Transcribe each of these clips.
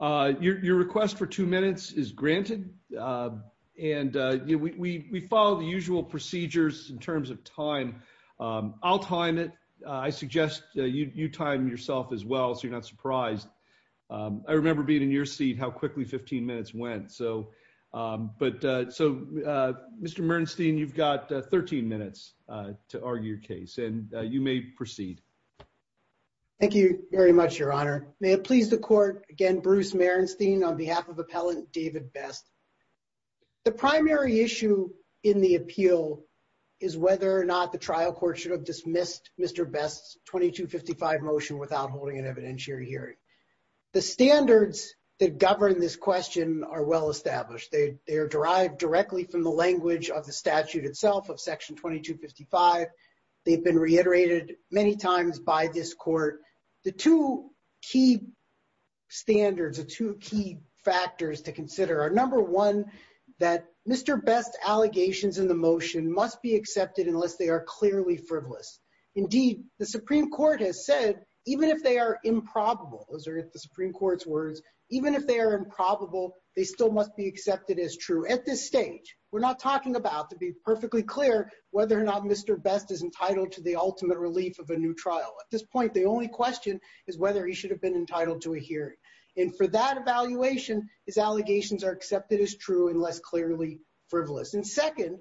your request for two minutes is granted and we follow the usual procedures in terms of time I'll time it I suggest you time yourself as well so you're not surprised I remember being in your seat how quickly 15 minutes went so but so mr. Bernstein you've got 13 minutes to argue your case and you may proceed thank you very much your honor may it please the court again Bruce Merenstein on behalf of appellant David best the primary issue in the appeal is whether or not the trial court should have dismissed mr. best 2255 motion without holding an evidentiary hearing the standards that govern this question are well established they are derived directly from the language of the the two key standards are two key factors to consider our number one that mr. best allegations in the motion must be accepted unless they are clearly frivolous indeed the Supreme Court has said even if they are improbable those are at the Supreme Court's words even if they are improbable they still must be accepted as true at this stage we're not talking about to be perfectly clear whether or not mr. best is entitled to the ultimate relief of a new trial at this point the only question is whether he should have been entitled to a hearing and for that evaluation his allegations are accepted as true and less clearly frivolous and second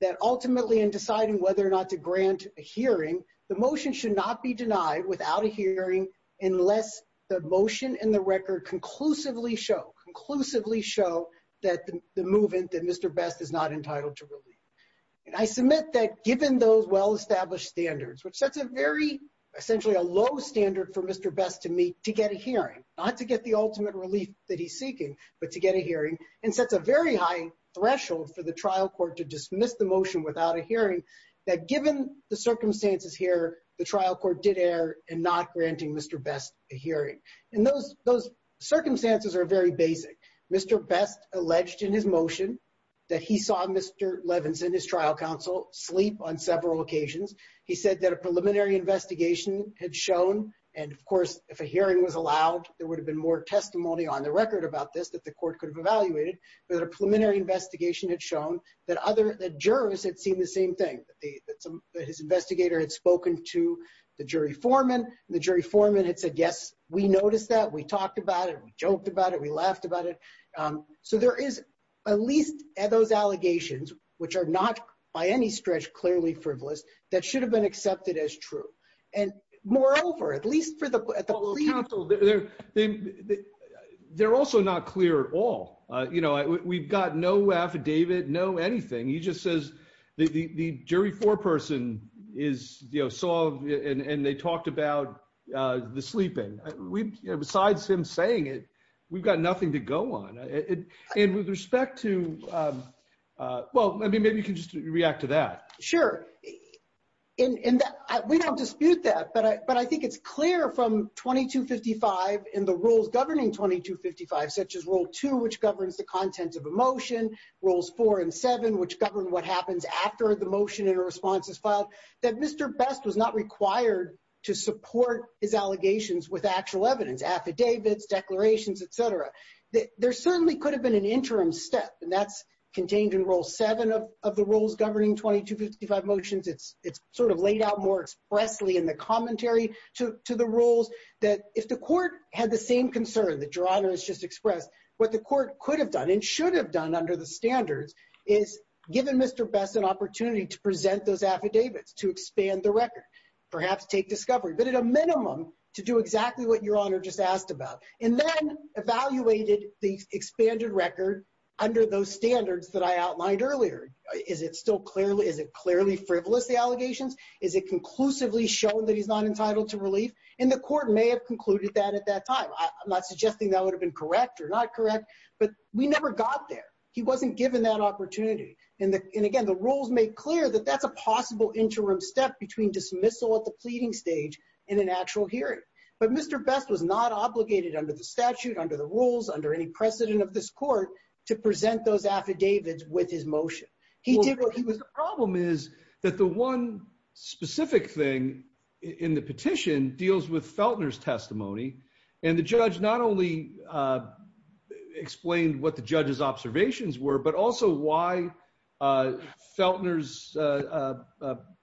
that ultimately in deciding whether or not to grant a hearing the motion should not be denied without a hearing unless the motion and the record conclusively show conclusively show that the movement that mr. best is not entitled to really and I submit that given those well-established standards which sets a very essentially a low standard for mr. best to meet to get a hearing not to get the ultimate relief that he's seeking but to get a hearing and sets a very high threshold for the trial court to dismiss the motion without a hearing that given the circumstances here the trial court did err and not granting mr. best a hearing and those those circumstances are very basic mr. best alleged in his motion that he saw mr. Levinson his trial counsel sleep on several occasions he said that a preliminary investigation had shown and of course if a hearing was allowed there would have been more testimony on the record about this that the court could have evaluated but a preliminary investigation had shown that other the jurors had seen the same thing that his investigator had spoken to the jury foreman the jury foreman had said yes we noticed that we talked about it we joked about it we laughed about it so there is at least at those allegations which are not by any stretch clearly frivolous that should have been accepted as true and moreover at least for the council there they're also not clear at all you know we've got no affidavit no anything he just says the jury foreperson is you know saw and they talked about the sleeping besides him saying it we've got nothing to go on it and with respect to well maybe maybe you can just react to that sure in that we don't dispute that but I but I think it's clear from 2255 in the rules governing 2255 such as rule 2 which governs the content of a motion rules 4 and 7 which govern what happens after the motion and responses filed that mr. best was not required to support his allegations with actual evidence affidavits declarations etc that there certainly could have been an interim step and that's contained in rule 7 of the rules governing 2255 motions it's it's sort of laid out more expressly in the commentary to the rules that if the court had the same concern that Geronimo has just expressed what the court could have done and should have done under the standards is given mr. best an affidavits to expand the record perhaps take discovery but at a minimum to do exactly what your honor just asked about and then evaluated the expanded record under those standards that I outlined earlier is it still clearly is it clearly frivolous the allegations is it conclusively shown that he's not entitled to relief and the court may have concluded that at that time I'm not suggesting that would have been correct or not correct but we never got there he wasn't given that opportunity and again the rules make clear that that's a possible interim step between dismissal at the pleading stage in an actual hearing but mr. best was not obligated under the statute under the rules under any precedent of this court to present those affidavits with his motion he did what he was the problem is that the one specific thing in the petition deals with Feltner's testimony and the judge not only explained what the judge's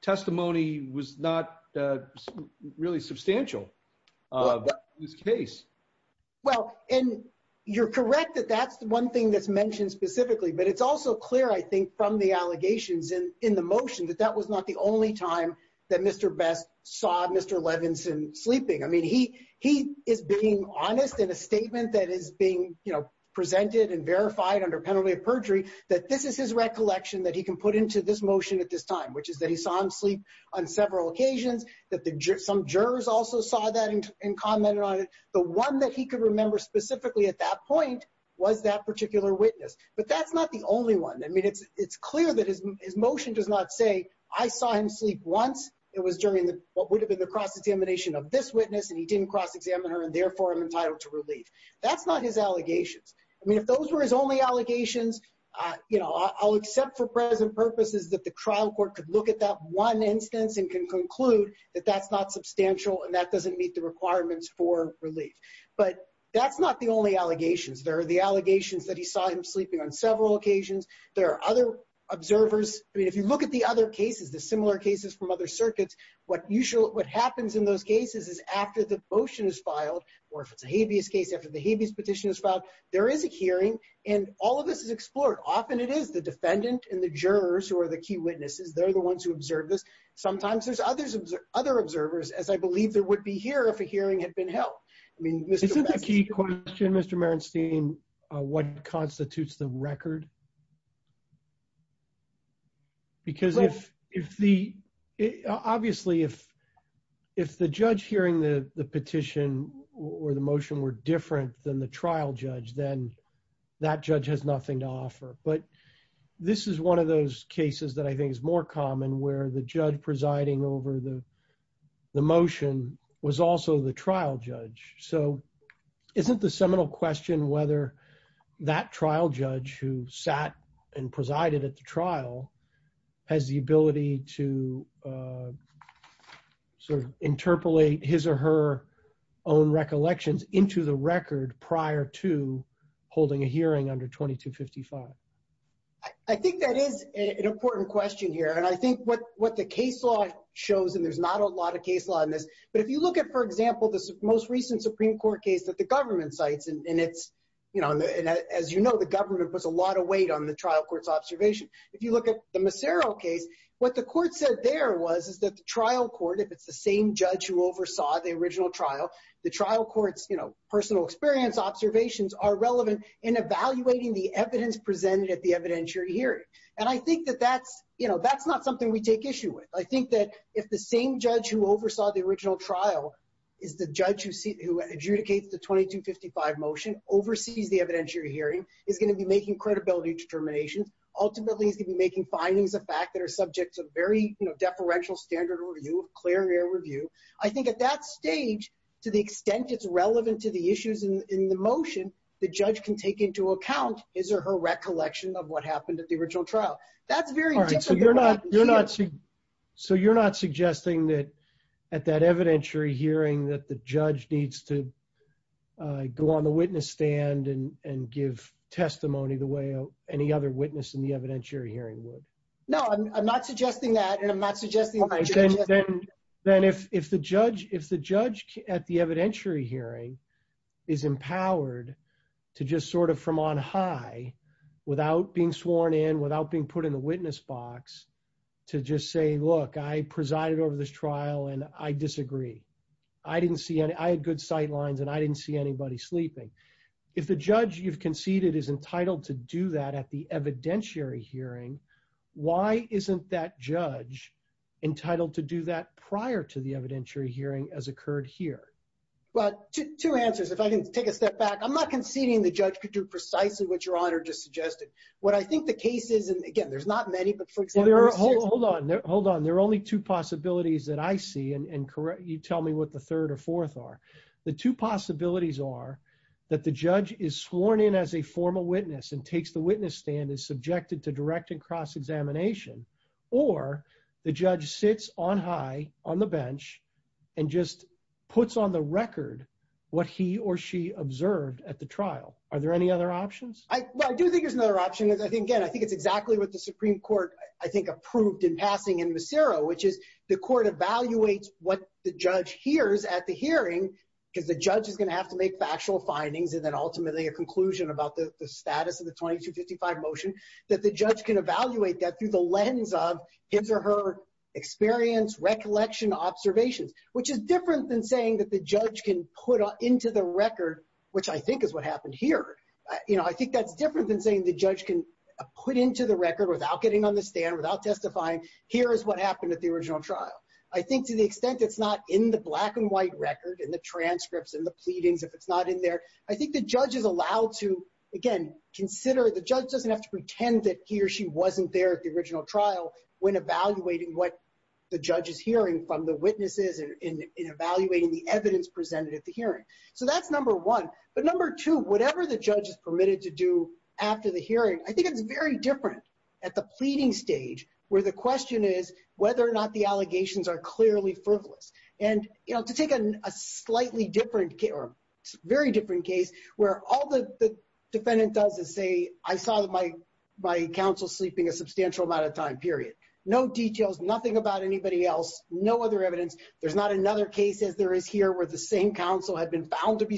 testimony was not really substantial this case well and you're correct that that's the one thing that's mentioned specifically but it's also clear I think from the allegations and in the motion that that was not the only time that mr. best saw mr. Levinson sleeping I mean he he is being honest in a statement that is being you know presented and verified under penalty of perjury that this is recollection that he can put into this motion at this time which is that he saw him sleep on several occasions that the some jurors also saw that and commented on it the one that he could remember specifically at that point was that particular witness but that's not the only one I mean it's it's clear that his motion does not say I saw him sleep once it was during the what would have been the cross-examination of this witness and he didn't cross-examine her and therefore I'm entitled to relief that's not his allegations I mean if those were his only allegations you know I'll accept for present purposes that the trial court could look at that one instance and can conclude that that's not substantial and that doesn't meet the requirements for relief but that's not the only allegations there are the allegations that he saw him sleeping on several occasions there are other observers I mean if you look at the other cases the similar cases from other circuits what usual what happens in those cases is after the motion is filed or if it's a habeas case after the habeas petition is filed there is a hearing and all of this is explored often it is the defendant and the jurors who are the key witnesses they're the ones who observe this sometimes there's others of other observers as I believe there would be here if a hearing had been held I mean this isn't a key question mr. Marenstein what constitutes the record because if if the obviously if if the judge hearing the the petition or the motion were different than the trial judge then that judge has nothing to offer but this is one of those cases that I think is more common where the judge presiding over the the motion was also the trial judge so isn't the seminal question whether that trial judge who sat and presided at the trial has the ability to sort of interpolate his or her own recollections into the record prior to holding a hearing under 2255 I think that is an important question here and I think what what the case law shows and there's not a lot of case law in this but if you look at for example this most recent Supreme Court case that the government cites and it's you know and as you know the government was a lot of weight on the trial courts observation if you look at the Massaro case what the court said there was is that the trial court if it's the same judge who oversaw the original trial the trial courts you know personal experience observations are relevant in evaluating the evidence presented at the evidentiary hearing and I think that that's you know that's not something we take issue with I think that if the same judge who oversaw the original trial is the judge who see who adjudicates the 2255 motion oversees the evidentiary hearing is going to be making credibility determinations ultimately is gonna be making findings a fact that are subject to very you know deferential standard review of clear air review I think at that stage to the extent it's relevant to the issues in the motion the judge can take into account his or her recollection of what happened at the original trial that's very you're not you're not so you're not suggesting that at that evidentiary hearing that the judge needs to go on the witness stand and give testimony the way any other witness in the evidentiary hearing would no I'm not suggesting that and I'm not suggesting then then if if the judge if the judge at the evidentiary hearing is empowered to just sort of from on high without being sworn in without being put in the witness box to just say look I presided over this trial and I disagree I didn't see any I had good sight lines and I didn't see anybody sleeping if the judge you've conceded is entitled to do that at the evidentiary hearing why isn't that judge entitled to do that prior to the evidentiary hearing as occurred here well two answers if I didn't take a step back I'm not conceding the judge could do precisely what your honor just suggested what I think the case is and again there's not hold on there hold on there are only two possibilities that I see and correct you tell me what the third or fourth are the two possibilities are that the judge is sworn in as a formal witness and takes the witness stand is subjected to direct and cross-examination or the judge sits on high on the bench and just puts on the record what he or she observed at the trial are there any other options I do think there's another option I think again I think it's exactly what the Supreme Court I think approved in passing in Massero which is the court evaluates what the judge hears at the hearing because the judge is gonna have to make factual findings and then ultimately a conclusion about the status of the 2255 motion that the judge can evaluate that through the lens of his or her experience recollection observations which is different than saying that the judge can put into the record which I think is what happened here you know I think that's different than saying the judge can put into the without getting on the stand without testifying here is what happened at the original trial I think to the extent it's not in the black and white record and the transcripts and the pleadings if it's not in there I think the judge is allowed to again consider the judge doesn't have to pretend that he or she wasn't there at the original trial when evaluating what the judge is hearing from the witnesses and in evaluating the evidence presented at the hearing so that's number one but number two whatever the judge is permitted to do after the hearing I think it's very different at the pleading stage where the question is whether or not the allegations are clearly frivolous and you know to take a slightly different care very different case where all the defendant does is say I saw that my my counsel sleeping a substantial amount of time period no details nothing about anybody else no other evidence there's not another case as there is here where the same counsel had been found to be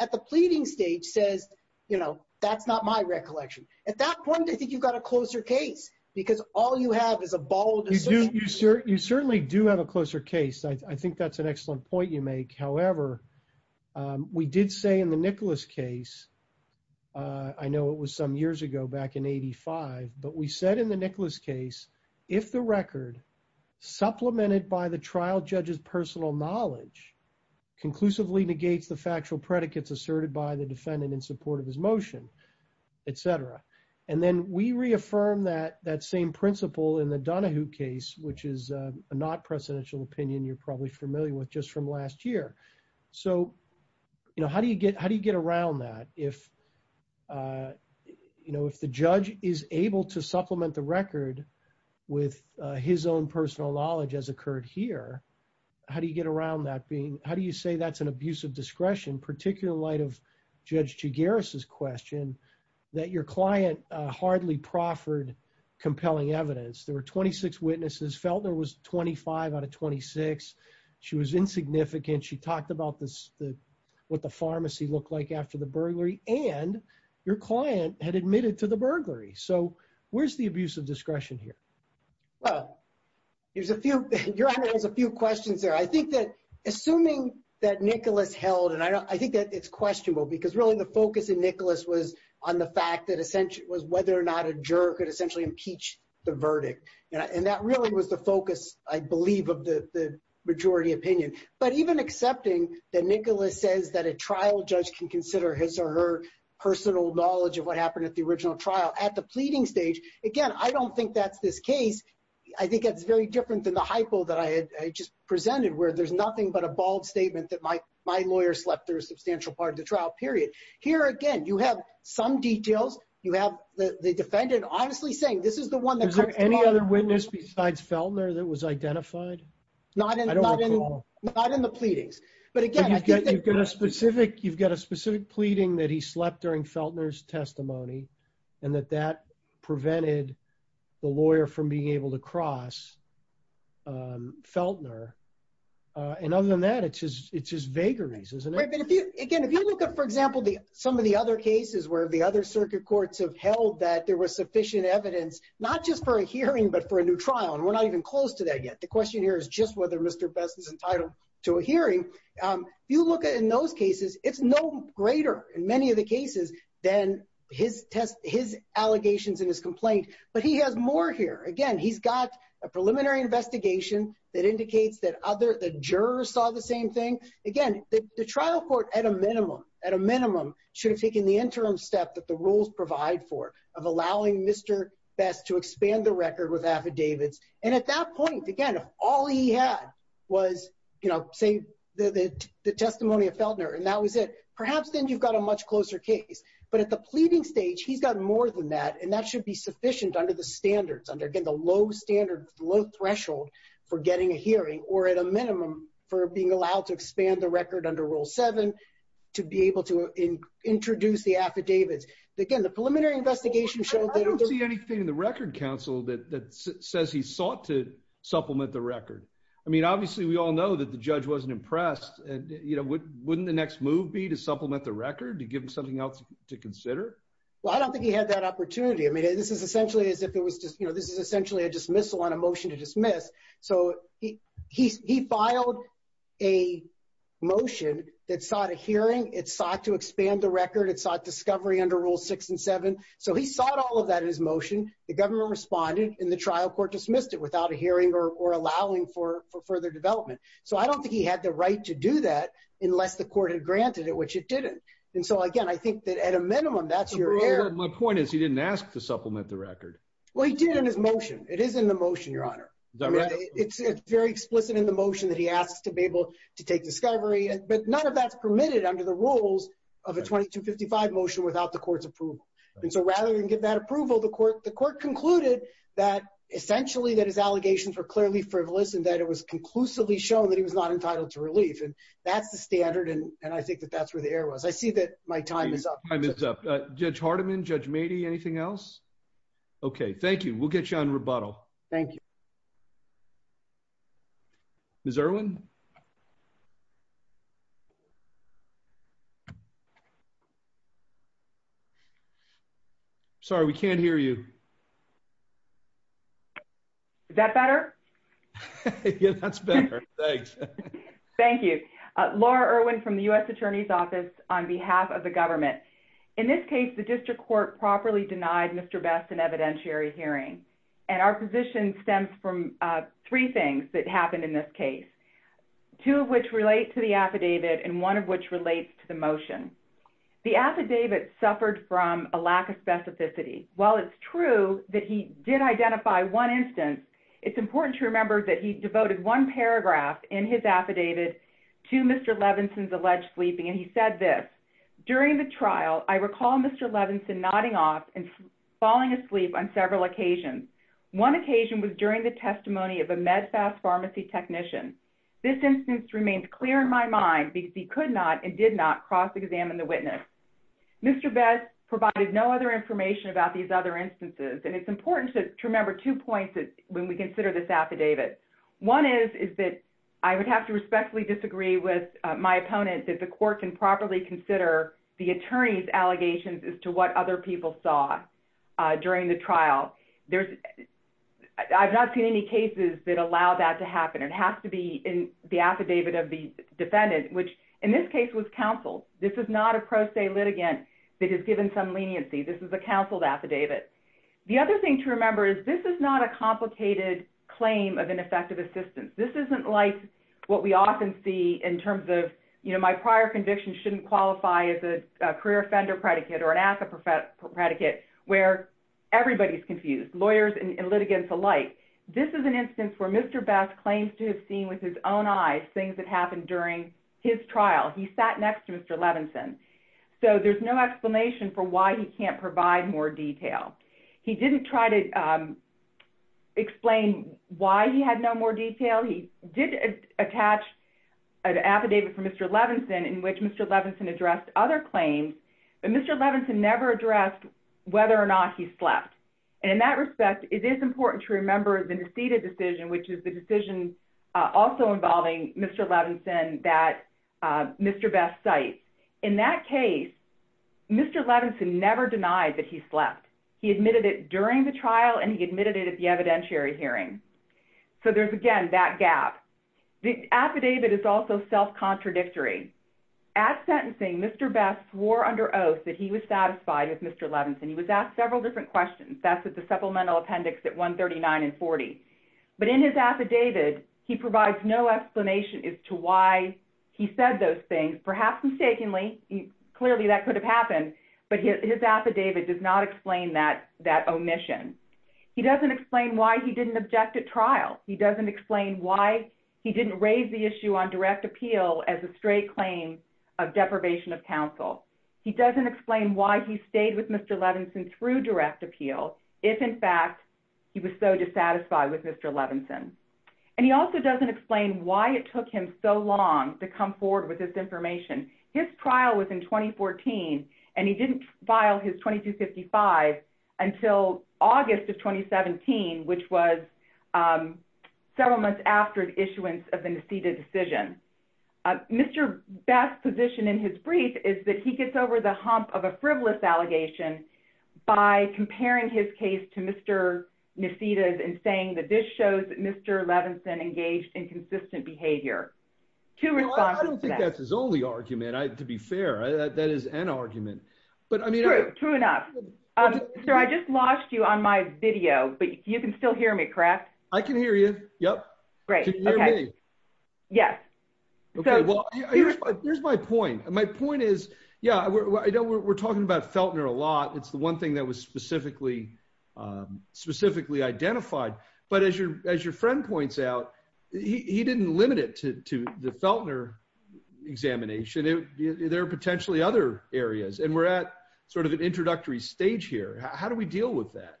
at the pleading stage says you know that's not my recollection at that point I think you've got a closer case because all you have is a ball you sure you certainly do have a closer case I think that's an excellent point you make however we did say in the Nicholas case I know it was some years ago back in 85 but we said in the Nicholas case if the record supplemented by the trial judge's asserted by the defendant in support of his motion etc and then we reaffirmed that that same principle in the Donahue case which is a not presidential opinion you're probably familiar with just from last year so you know how do you get how do you get around that if you know if the judge is able to supplement the record with his own personal knowledge as occurred here how do you get around that being how do you say that's an abuse of discretion particular light of judge G. Garris's question that your client hardly proffered compelling evidence there were 26 witnesses Feltner was 25 out of 26 she was insignificant she talked about this what the pharmacy looked like after the burglary and your client had admitted to the burglary so where's the abuse of discretion here well there's a few there's a few questions there I think that assuming that Nicholas held and I think that it's questionable because really the focus in Nicholas was on the fact that essentially was whether or not a juror could essentially impeach the verdict and that really was the focus I believe of the majority opinion but even accepting that Nicholas says that a trial judge can consider his or her personal knowledge of what happened at the original trial at the pleading stage again I don't think that's this case I think it's very different than the hypo that I had just presented where there's nothing but a bald statement that my my lawyer slept through a substantial part of the trial period here again you have some details you have the defendant honestly saying this is the one that any other witness besides Feltner that was identified not in the pleadings but again you've got a specific you've got a specific pleading that he slept during Feltner's testimony and that that prevented the lawyer from being able to cross Feltner and other than that it's just it's just vagaries isn't it again if you look at for example the some of the other cases where the other circuit courts have held that there was sufficient evidence not just for a hearing but for a new trial and we're not even close to that yet the question here is just whether mr. best is entitled to a hearing you look at in those cases it's no greater in many of cases then his test his allegations in his complaint but he has more here again he's got a preliminary investigation that indicates that other the jurors saw the same thing again the trial court at a minimum at a minimum should have taken the interim step that the rules provide for of allowing mr. best to expand the record with affidavits and at that point again if all he had was you know say the testimony of Feltner and that was it perhaps then you've got a case but at the pleading stage he's got more than that and that should be sufficient under the standards under again the low standard low threshold for getting a hearing or at a minimum for being allowed to expand the record under rule 7 to be able to introduce the affidavits again the preliminary investigation shows anything in the Record Council that says he sought to supplement the record I mean obviously we all know that the judge wasn't impressed and you know what wouldn't the next move be to supplement the record to something else to consider well I don't think he had that opportunity I mean this is essentially as if it was just you know this is essentially a dismissal on a motion to dismiss so he he filed a motion that sought a hearing it sought to expand the record it's not discovery under rule six and seven so he sought all of that in his motion the government responded in the trial court dismissed it without a hearing or allowing for further development so I don't think he had the right to do that unless the court had granted it which it didn't and so again I think that at a minimum that's your my point is he didn't ask to supplement the record well he did in his motion it is in the motion your honor it's very explicit in the motion that he asks to be able to take discovery and but none of that's permitted under the rules of a 2255 motion without the court's approval and so rather than give that approval the court the court concluded that essentially that his allegations were clearly frivolous and that it was conclusively shown that he was not entitled to relief and that's the standard and and I think that that's where the air was I see that my time is up time is up judge Hardiman judge matey anything else okay thank you we'll get you on rebuttal thank you miss Erwin sorry we can't hear you that better yeah that's better thanks thank you Laura Erwin from the US Attorney's Office on behalf of the government in this case the district court properly denied mr. best an evidentiary hearing and our position stems from three things that happened in this case two of which relate to the affidavit and one of which relates to the motion the affidavit suffered from a lack of specificity while it's true that he did identify one instance it's important to remember that he devoted one paragraph in his Mr. Levinson's alleged sleeping and he said this during the trial I recall Mr. Levinson nodding off and falling asleep on several occasions one occasion was during the testimony of a medfast pharmacy technician this instance remained clear in my mind because he could not and did not cross-examine the witness mr. best provided no other information about these other instances and it's important to remember two points that when we consider this my opponent that the court can properly consider the attorney's allegations as to what other people saw during the trial there's I've not seen any cases that allow that to happen it has to be in the affidavit of the defendant which in this case was counseled this is not a pro se litigant that has given some leniency this is a counseled affidavit the other thing to remember is this is not a complicated claim of ineffective assistance this isn't like what we often see in terms of you know my prior convictions shouldn't qualify as a career offender predicate or an asset for fat predicate where everybody's confused lawyers and litigants alike this is an instance where mr. best claims to have seen with his own eyes things that happened during his trial he sat next to mr. Levinson so there's no explanation for why he can't provide more detail he didn't try to explain why he had no more detail he did attach an affidavit for mr. Levinson in which mr. Levinson addressed other claims but mr. Levinson never addressed whether or not he slept and in that respect it is important to remember the deceded decision which is the decision also involving mr. Levinson that mr. best site in that case mr. Levinson never denied that he slept he admitted it during the trial and he admitted it at the evidentiary hearing so there's again that gap the affidavit is also self-contradictory at sentencing mr. best swore under oath that he was satisfied with mr. Levinson he was asked several different questions that's at the supplemental appendix at 139 and 40 but in his affidavit he provides no explanation as to why he said those things perhaps mistakenly clearly that could have happened but his affidavit does not explain that that omission he doesn't explain why he didn't object at trial he doesn't explain why he didn't raise the issue on direct appeal as a straight claim of deprivation of counsel he doesn't explain why he stayed with mr. Levinson through direct appeal if in fact he was so dissatisfied with mr. Levinson and he also doesn't explain why it took him so long to come forward with this information his trial was in 2014 and he didn't file his 2255 until August of 2017 which was several months after the issuance of the Nesita decision mr. best position in his brief is that he gets over the hump of a frivolous allegation by comparing his case to mr. Nesita's and saying that this shows that mr. Levinson engaged in argument but I mean true enough sir I just lost you on my video but you can still hear me correct I can hear you yep great yes okay well here's my point my point is yeah I don't we're talking about Feltner a lot it's the one thing that was specifically specifically identified but as your as your friend points out he didn't limit it to the Feltner examination there are areas and we're at sort of an introductory stage here how do we deal with that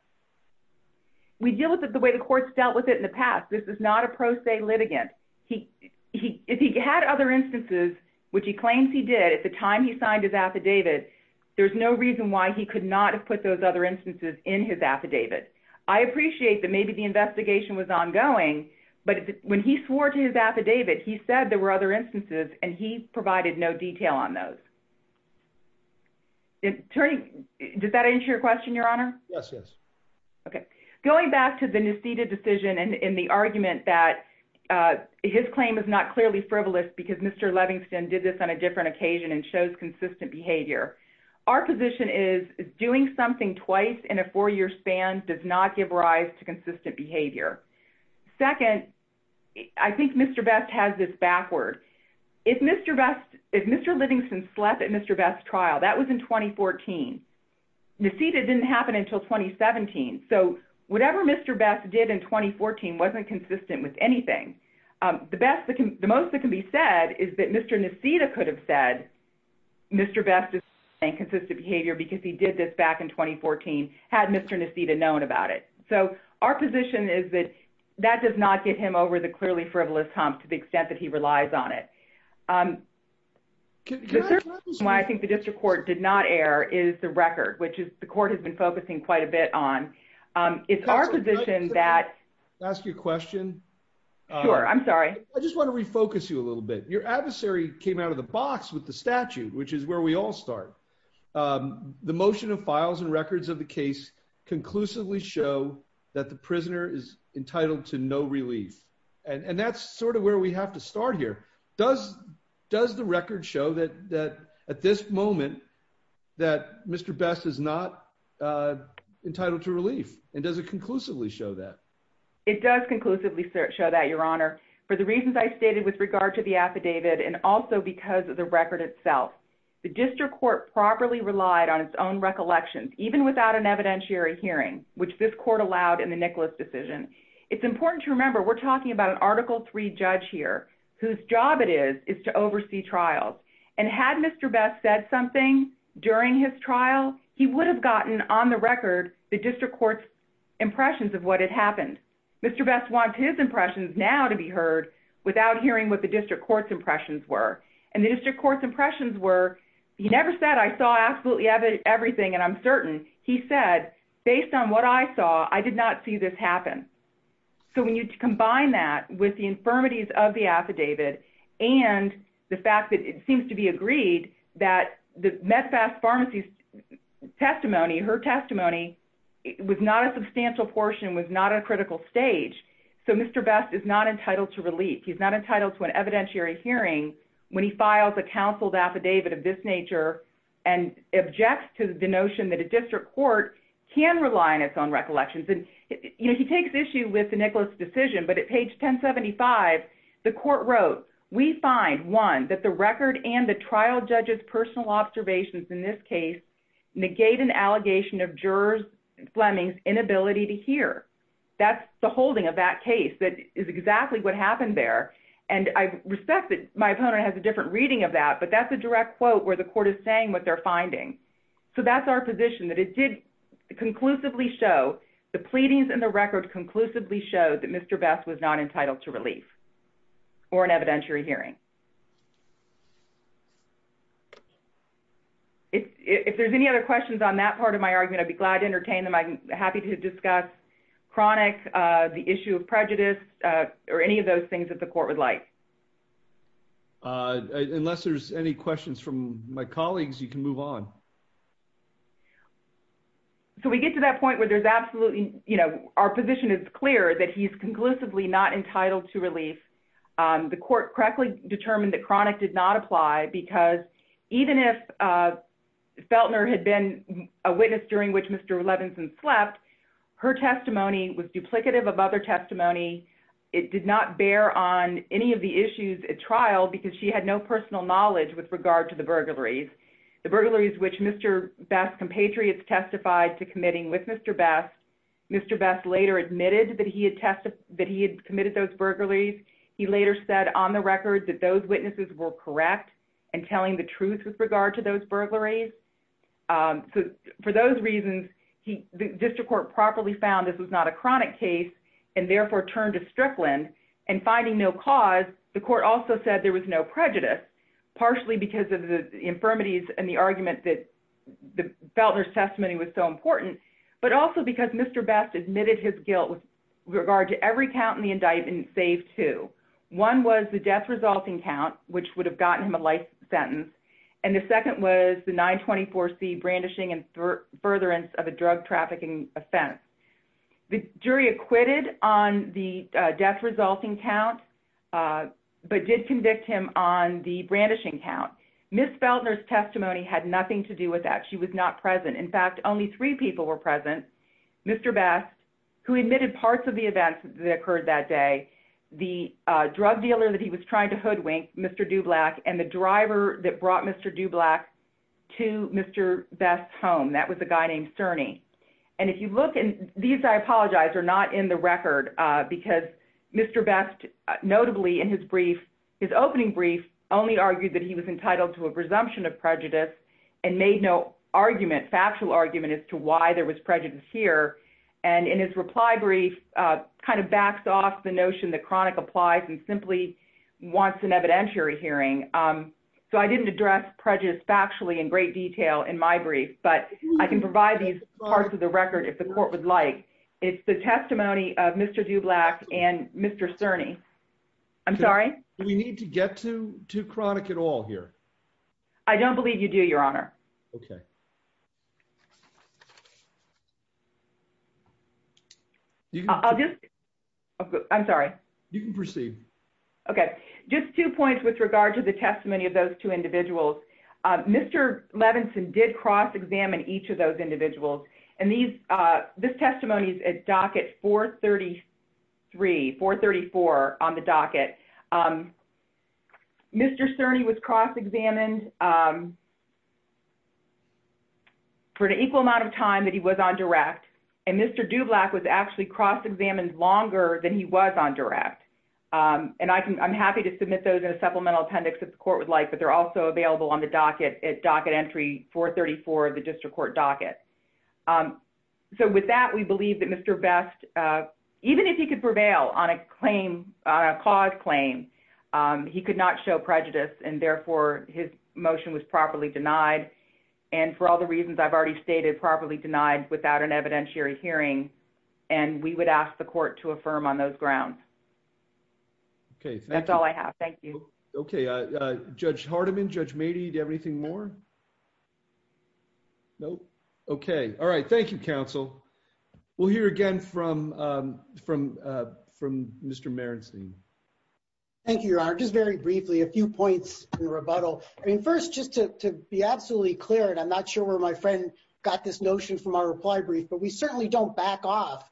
we deal with it the way the courts dealt with it in the past this is not a pro se litigant he he had other instances which he claims he did at the time he signed his affidavit there's no reason why he could not have put those other instances in his affidavit I appreciate that maybe the investigation was ongoing but when he swore to his affidavit he said there were other attorney does that answer your question your honor yes yes okay going back to the Nesita decision and in the argument that his claim is not clearly frivolous because mr. Levinson did this on a different occasion and shows consistent behavior our position is doing something twice in a four-year span does not give rise to consistent behavior second I think mr. best has this backward if mr. best if mr. Livingston slept at mr. best trial that was in 2014 Nesita didn't happen until 2017 so whatever mr. best did in 2014 wasn't consistent with anything the best that can the most that can be said is that mr. Nesita could have said mr. best is saying consistent behavior because he did this back in 2014 had mr. Nesita known about it so our position is that that does not get him over the clearly frivolous hump to the extent that he why I think the district court did not air is the record which is the court has been focusing quite a bit on it's our position that ask you a question I'm sorry I just want to refocus you a little bit your adversary came out of the box with the statute which is where we all start the motion of files and records of the case conclusively show that the prisoner is entitled to no relief and that's sort of where we have to start here does does the record show that that at this moment that mr. best is not entitled to relief and does it conclusively show that it does conclusively show that your honor for the reasons I stated with regard to the affidavit and also because of the record itself the district court properly relied on its own recollections even without an evidentiary hearing which this court allowed in the Nicholas decision it's important to remember we're talking about an article 3 judge here whose job it is is to oversee trials and had mr. best said something during his trial he would have gotten on the record the district courts impressions of what had happened mr. best wants his impressions now to be heard without hearing what the district courts impressions were and the district courts impressions were he never said I saw absolutely everything and I'm based on what I saw I did not see this happen so when you combine that with the infirmities of the affidavit and the fact that it seems to be agreed that the medfast pharmacies testimony her testimony was not a substantial portion was not a critical stage so mr. best is not entitled to relief he's not entitled to an evidentiary hearing when he files a counseled affidavit of this can rely on its own recollections and you know he takes issue with the Nicholas decision but at page 1075 the court wrote we find one that the record and the trial judges personal observations in this case negate an allegation of jurors Fleming's inability to hear that's the holding of that case that is exactly what happened there and I respect that my opponent has a different reading of that but that's a direct quote where the court is saying what they're finding so that's our position that it did conclusively show the pleadings and the record conclusively showed that mr. best was not entitled to relief or an evidentiary hearing if there's any other questions on that part of my argument I'd be glad to entertain them I'm happy to discuss chronic the issue of prejudice or any of those things that the court would like unless there's any questions from my colleagues you can move on so we get to that point where there's absolutely you know our position is clear that he's conclusively not entitled to relief the court correctly determined that chronic did not apply because even if Feltner had been a witness during which mr. Levinson slept her testimony was duplicative of other testimony it did not bear on any of the issues at trial because she had no personal knowledge with regard to the burglaries the burglaries which mr. best compatriots testified to committing with mr. best mr. best later admitted that he had tested that he had committed those burglaries he later said on the record that those witnesses were correct and telling the truth with regard to those burglaries so for those reasons he the district court properly found this was not a chronic case and therefore turned to Strickland and finding no cause the court also said there was no prejudice partially because of the infirmities and the argument that the Feltner's testimony was so important but also because mr. best admitted his guilt with regard to every count in the indictment save two one was the death resulting count which would have gotten him a life sentence and the second was the 924 C brandishing and furtherance of a drug trafficking offense the jury acquitted on the death resulting count but did convict him on the brandishing count miss Feltner's testimony had nothing to do with that she was not present in fact only three people were present mr. best who admitted parts of the events that occurred that day the drug dealer that he was trying to hoodwink mr. do black and the driver that brought mr. do black to mr. best home that was a name Cerny and if you look in these I apologize are not in the record because mr. best notably in his brief his opening brief only argued that he was entitled to a presumption of prejudice and made no argument factual argument as to why there was prejudice here and in his reply brief kind of backs off the notion that chronic applies and simply wants an evidentiary hearing so I didn't address prejudice factually in great detail in my brief but I can provide these parts of the record if the court would like it's the testimony of mr. do black and mr. Cerny I'm sorry we need to get to to chronic at all here I don't believe you do your honor okay I'll just I'm sorry you can proceed okay just two individuals mr. Levinson did cross-examine each of those individuals and these this testimony is a docket 433 434 on the docket mr. Cerny was cross-examined for an equal amount of time that he was on direct and mr. do black was actually cross-examined longer than he was on direct and I can I'm happy to submit those in a supplemental appendix if the court would like but they're also available on the docket at docket entry 434 the district court docket so with that we believe that mr. best even if he could prevail on a claim on a cause claim he could not show prejudice and therefore his motion was properly denied and for all the reasons I've already stated properly denied without an evidentiary hearing and we would ask the court to affirm on those grounds okay that's all I have thank you okay judge Hardiman judge matey do everything more no okay all right thank you counsel we'll hear again from from from mr. Merenstein thank you your honor just very briefly a few points in rebuttal I mean first just to be absolutely clear and I'm not sure where my friend got this notion from our reply brief but we certainly don't back off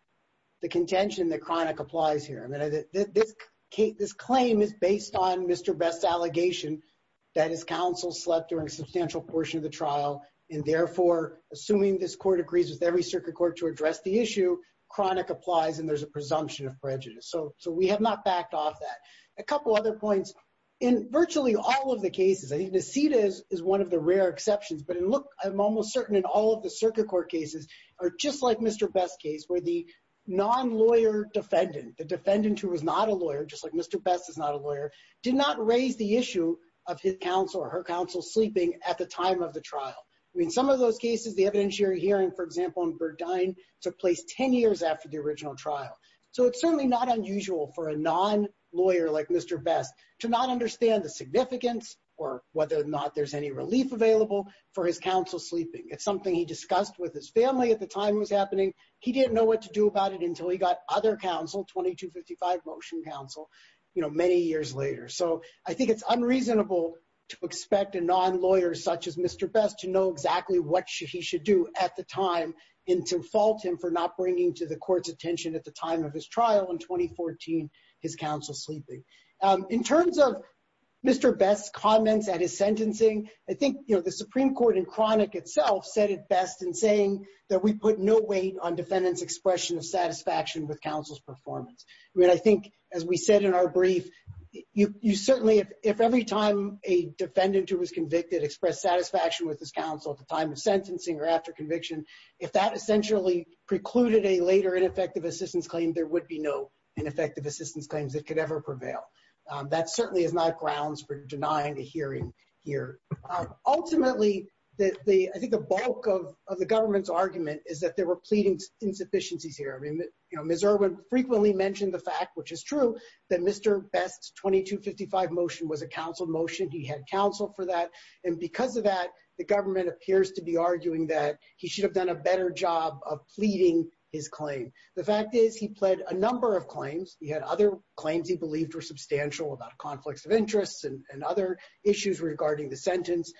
the contention that chronic applies here I mean this Kate this claim is based on mr. best allegation that his counsel slept during substantial portion of the trial and therefore assuming this court agrees with every circuit court to address the issue chronic applies and there's a presumption of prejudice so so we have not backed off that a couple other points in virtually all of the cases I need to see this is one of the rare exceptions but it look I'm almost certain in all of the circuit court cases are just like mr. best case where the non-lawyer defendant the defendant who was not a lawyer just like mr. best is not a lawyer did not raise the issue of his counsel or her counsel sleeping at the time of the trial I mean some of those cases the evidentiary hearing for example in Burdine took place ten years after the original trial so it's certainly not unusual for a non-lawyer like mr. best to not understand the significance or whether or not there's any relief available for his counsel sleeping it's something he discussed with his family at the time was to do about it until he got other counsel 2255 motion counsel you know many years later so I think it's unreasonable to expect a non-lawyer such as mr. best to know exactly what he should do at the time in to fault him for not bringing to the court's attention at the time of his trial in 2014 his counsel sleeping in terms of mr. best comments at his sentencing I think you know the Supreme Court in chronic itself said it best in saying that we put no weight on defendants expression of satisfaction with counsel's performance I mean I think as we said in our brief you certainly if every time a defendant who was convicted expressed satisfaction with this counsel at the time of sentencing or after conviction if that essentially precluded a later ineffective assistance claim there would be no ineffective assistance claims that could ever prevail that certainly is not grounds for denying the ultimately that the I think the bulk of the government's argument is that there were pleading insufficiencies here I mean you know mr. would frequently mentioned the fact which is true that mr. best 2255 motion was a counsel motion he had counsel for that and because of that the government appears to be arguing that he should have done a better job of pleading his claim the fact is he pled a number of claims he had other claims he believed were and other issues regarding the sentence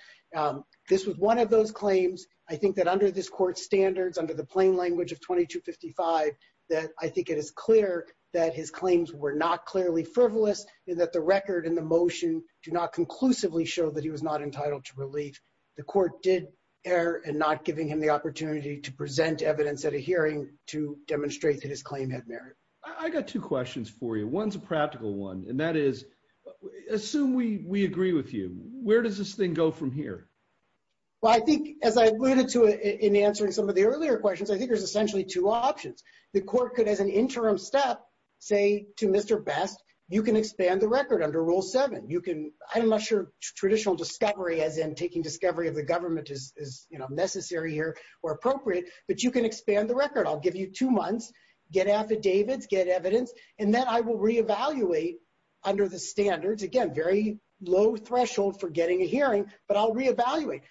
this was one of those claims I think that under this court standards under the plain language of 2255 that I think it is clear that his claims were not clearly frivolous and that the record in the motion do not conclusively show that he was not entitled to relief the court did err and not giving him the opportunity to present evidence at a hearing to demonstrate that his claim had merit I got two questions for you one's a practical one and that is assume we we agree with you where does this thing go from here well I think as I alluded to in answering some of the earlier questions I think there's essentially two options the court could as an interim step say to mr. best you can expand the record under rule 7 you can I'm not sure traditional discovery as in taking discovery of the government is you know necessary here or appropriate but you can expand the record I'll give you two months get affidavits get evidence and then I will reevaluate under the standards again very low threshold for getting a hearing but I'll reevaluate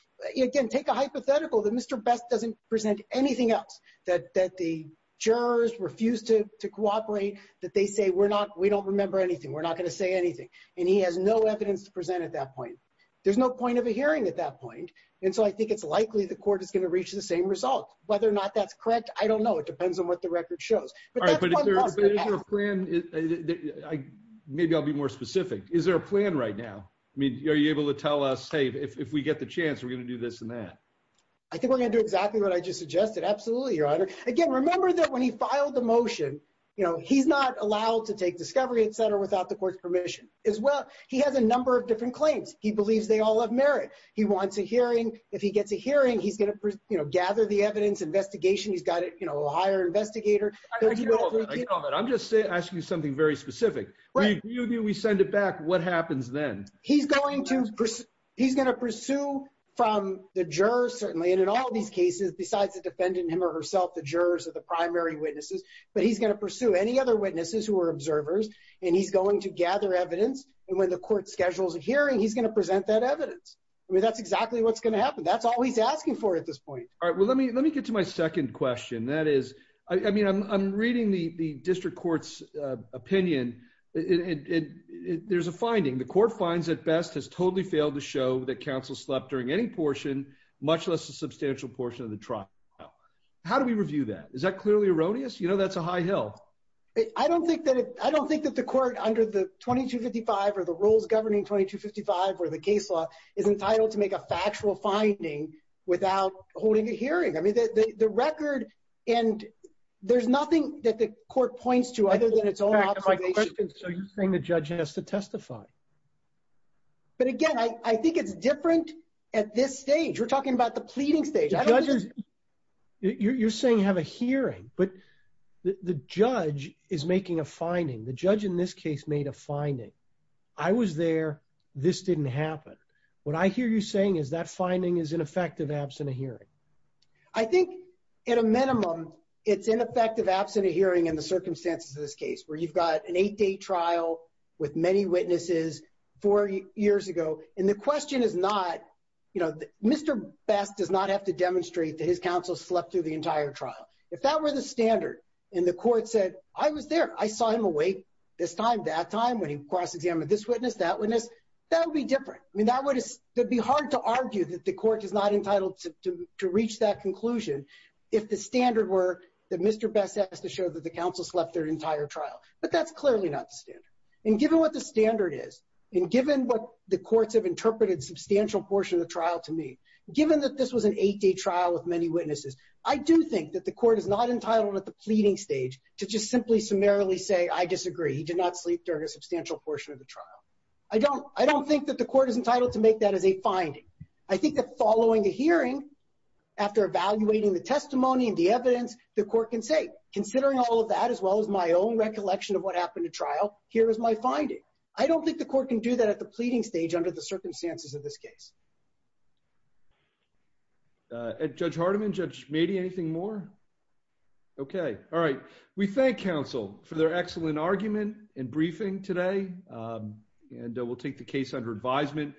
again take a hypothetical that mr. best doesn't present anything else that that the jurors refuse to cooperate that they say we're not we don't remember anything we're not going to say anything and he has no evidence to present at that point there's no point of a hearing at that point and so I think it's likely the court is going to reach the same result whether or not that's correct I don't know it depends on what the record shows maybe I'll be more specific is there a plan right now I mean are you able to tell us hey if we get the chance we're gonna do this and that I think we're gonna do exactly what I just suggested absolutely your honor again remember that when he filed the motion you know he's not allowed to take discovery etc without the court's permission as well he has a number of different claims he believes they all have merit he wants a hearing if he gets a hearing he's gonna you know gather the evidence investigation he's got it you know a higher investigator I'm just asking you something very specific right you do we send it back what happens then he's going to he's gonna pursue from the jurors certainly and in all these cases besides the defendant him or herself the jurors of the primary witnesses but he's gonna pursue any other witnesses who are observers and he's going to gather evidence and when the court schedules a hearing he's gonna present that evidence I mean that's exactly what's gonna happen that's all he's asking for at this point all right well let me let me get to my second question that is I mean I'm reading the the district courts opinion it there's a finding the court finds at best has totally failed to show that counsel slept during any portion much less a substantial portion of the trial how do we review that is that clearly erroneous you know that's a high hill I don't think that I don't think that the court under the 2255 or the rules governing 2255 or the case law is entitled to make a factual finding without holding a hearing I mean that the record and there's nothing that the court points to either than it's all right so you're saying the judge has to testify but again I think it's different at this stage we're talking about the pleading stage you're saying have a hearing but the judge is making a finding the judge in this case made a I was there this didn't happen what I hear you saying is that finding is ineffective absent a hearing I think in a minimum it's ineffective absent a hearing in the circumstances of this case where you've got an eight-day trial with many witnesses four years ago and the question is not you know mr. best does not have to demonstrate that his counsel slept through the entire trial if that were the standard and the court said I was there I saw him awake this time that time when he cross-examined this witness that witness that would be different I mean that would be hard to argue that the court is not entitled to reach that conclusion if the standard were that mr. best has to show that the council slept their entire trial but that's clearly not the standard and given what the standard is and given what the courts have interpreted substantial portion of the trial to me given that this was an eight-day trial with many witnesses I do think that the court is not entitled at the pleading stage to just simply summarily say I disagree he did not sleep during a substantial portion of the trial I don't I don't think that the court is entitled to make that as a finding I think that following a hearing after evaluating the testimony and the evidence the court can say considering all of that as well as my own recollection of what happened to trial here is my finding I don't think the court can do that at the pleading stage under the circumstances of this judge Hardiman judge maybe anything more okay all right we thank counsel for their excellent argument in briefing today and we'll take the case under advisement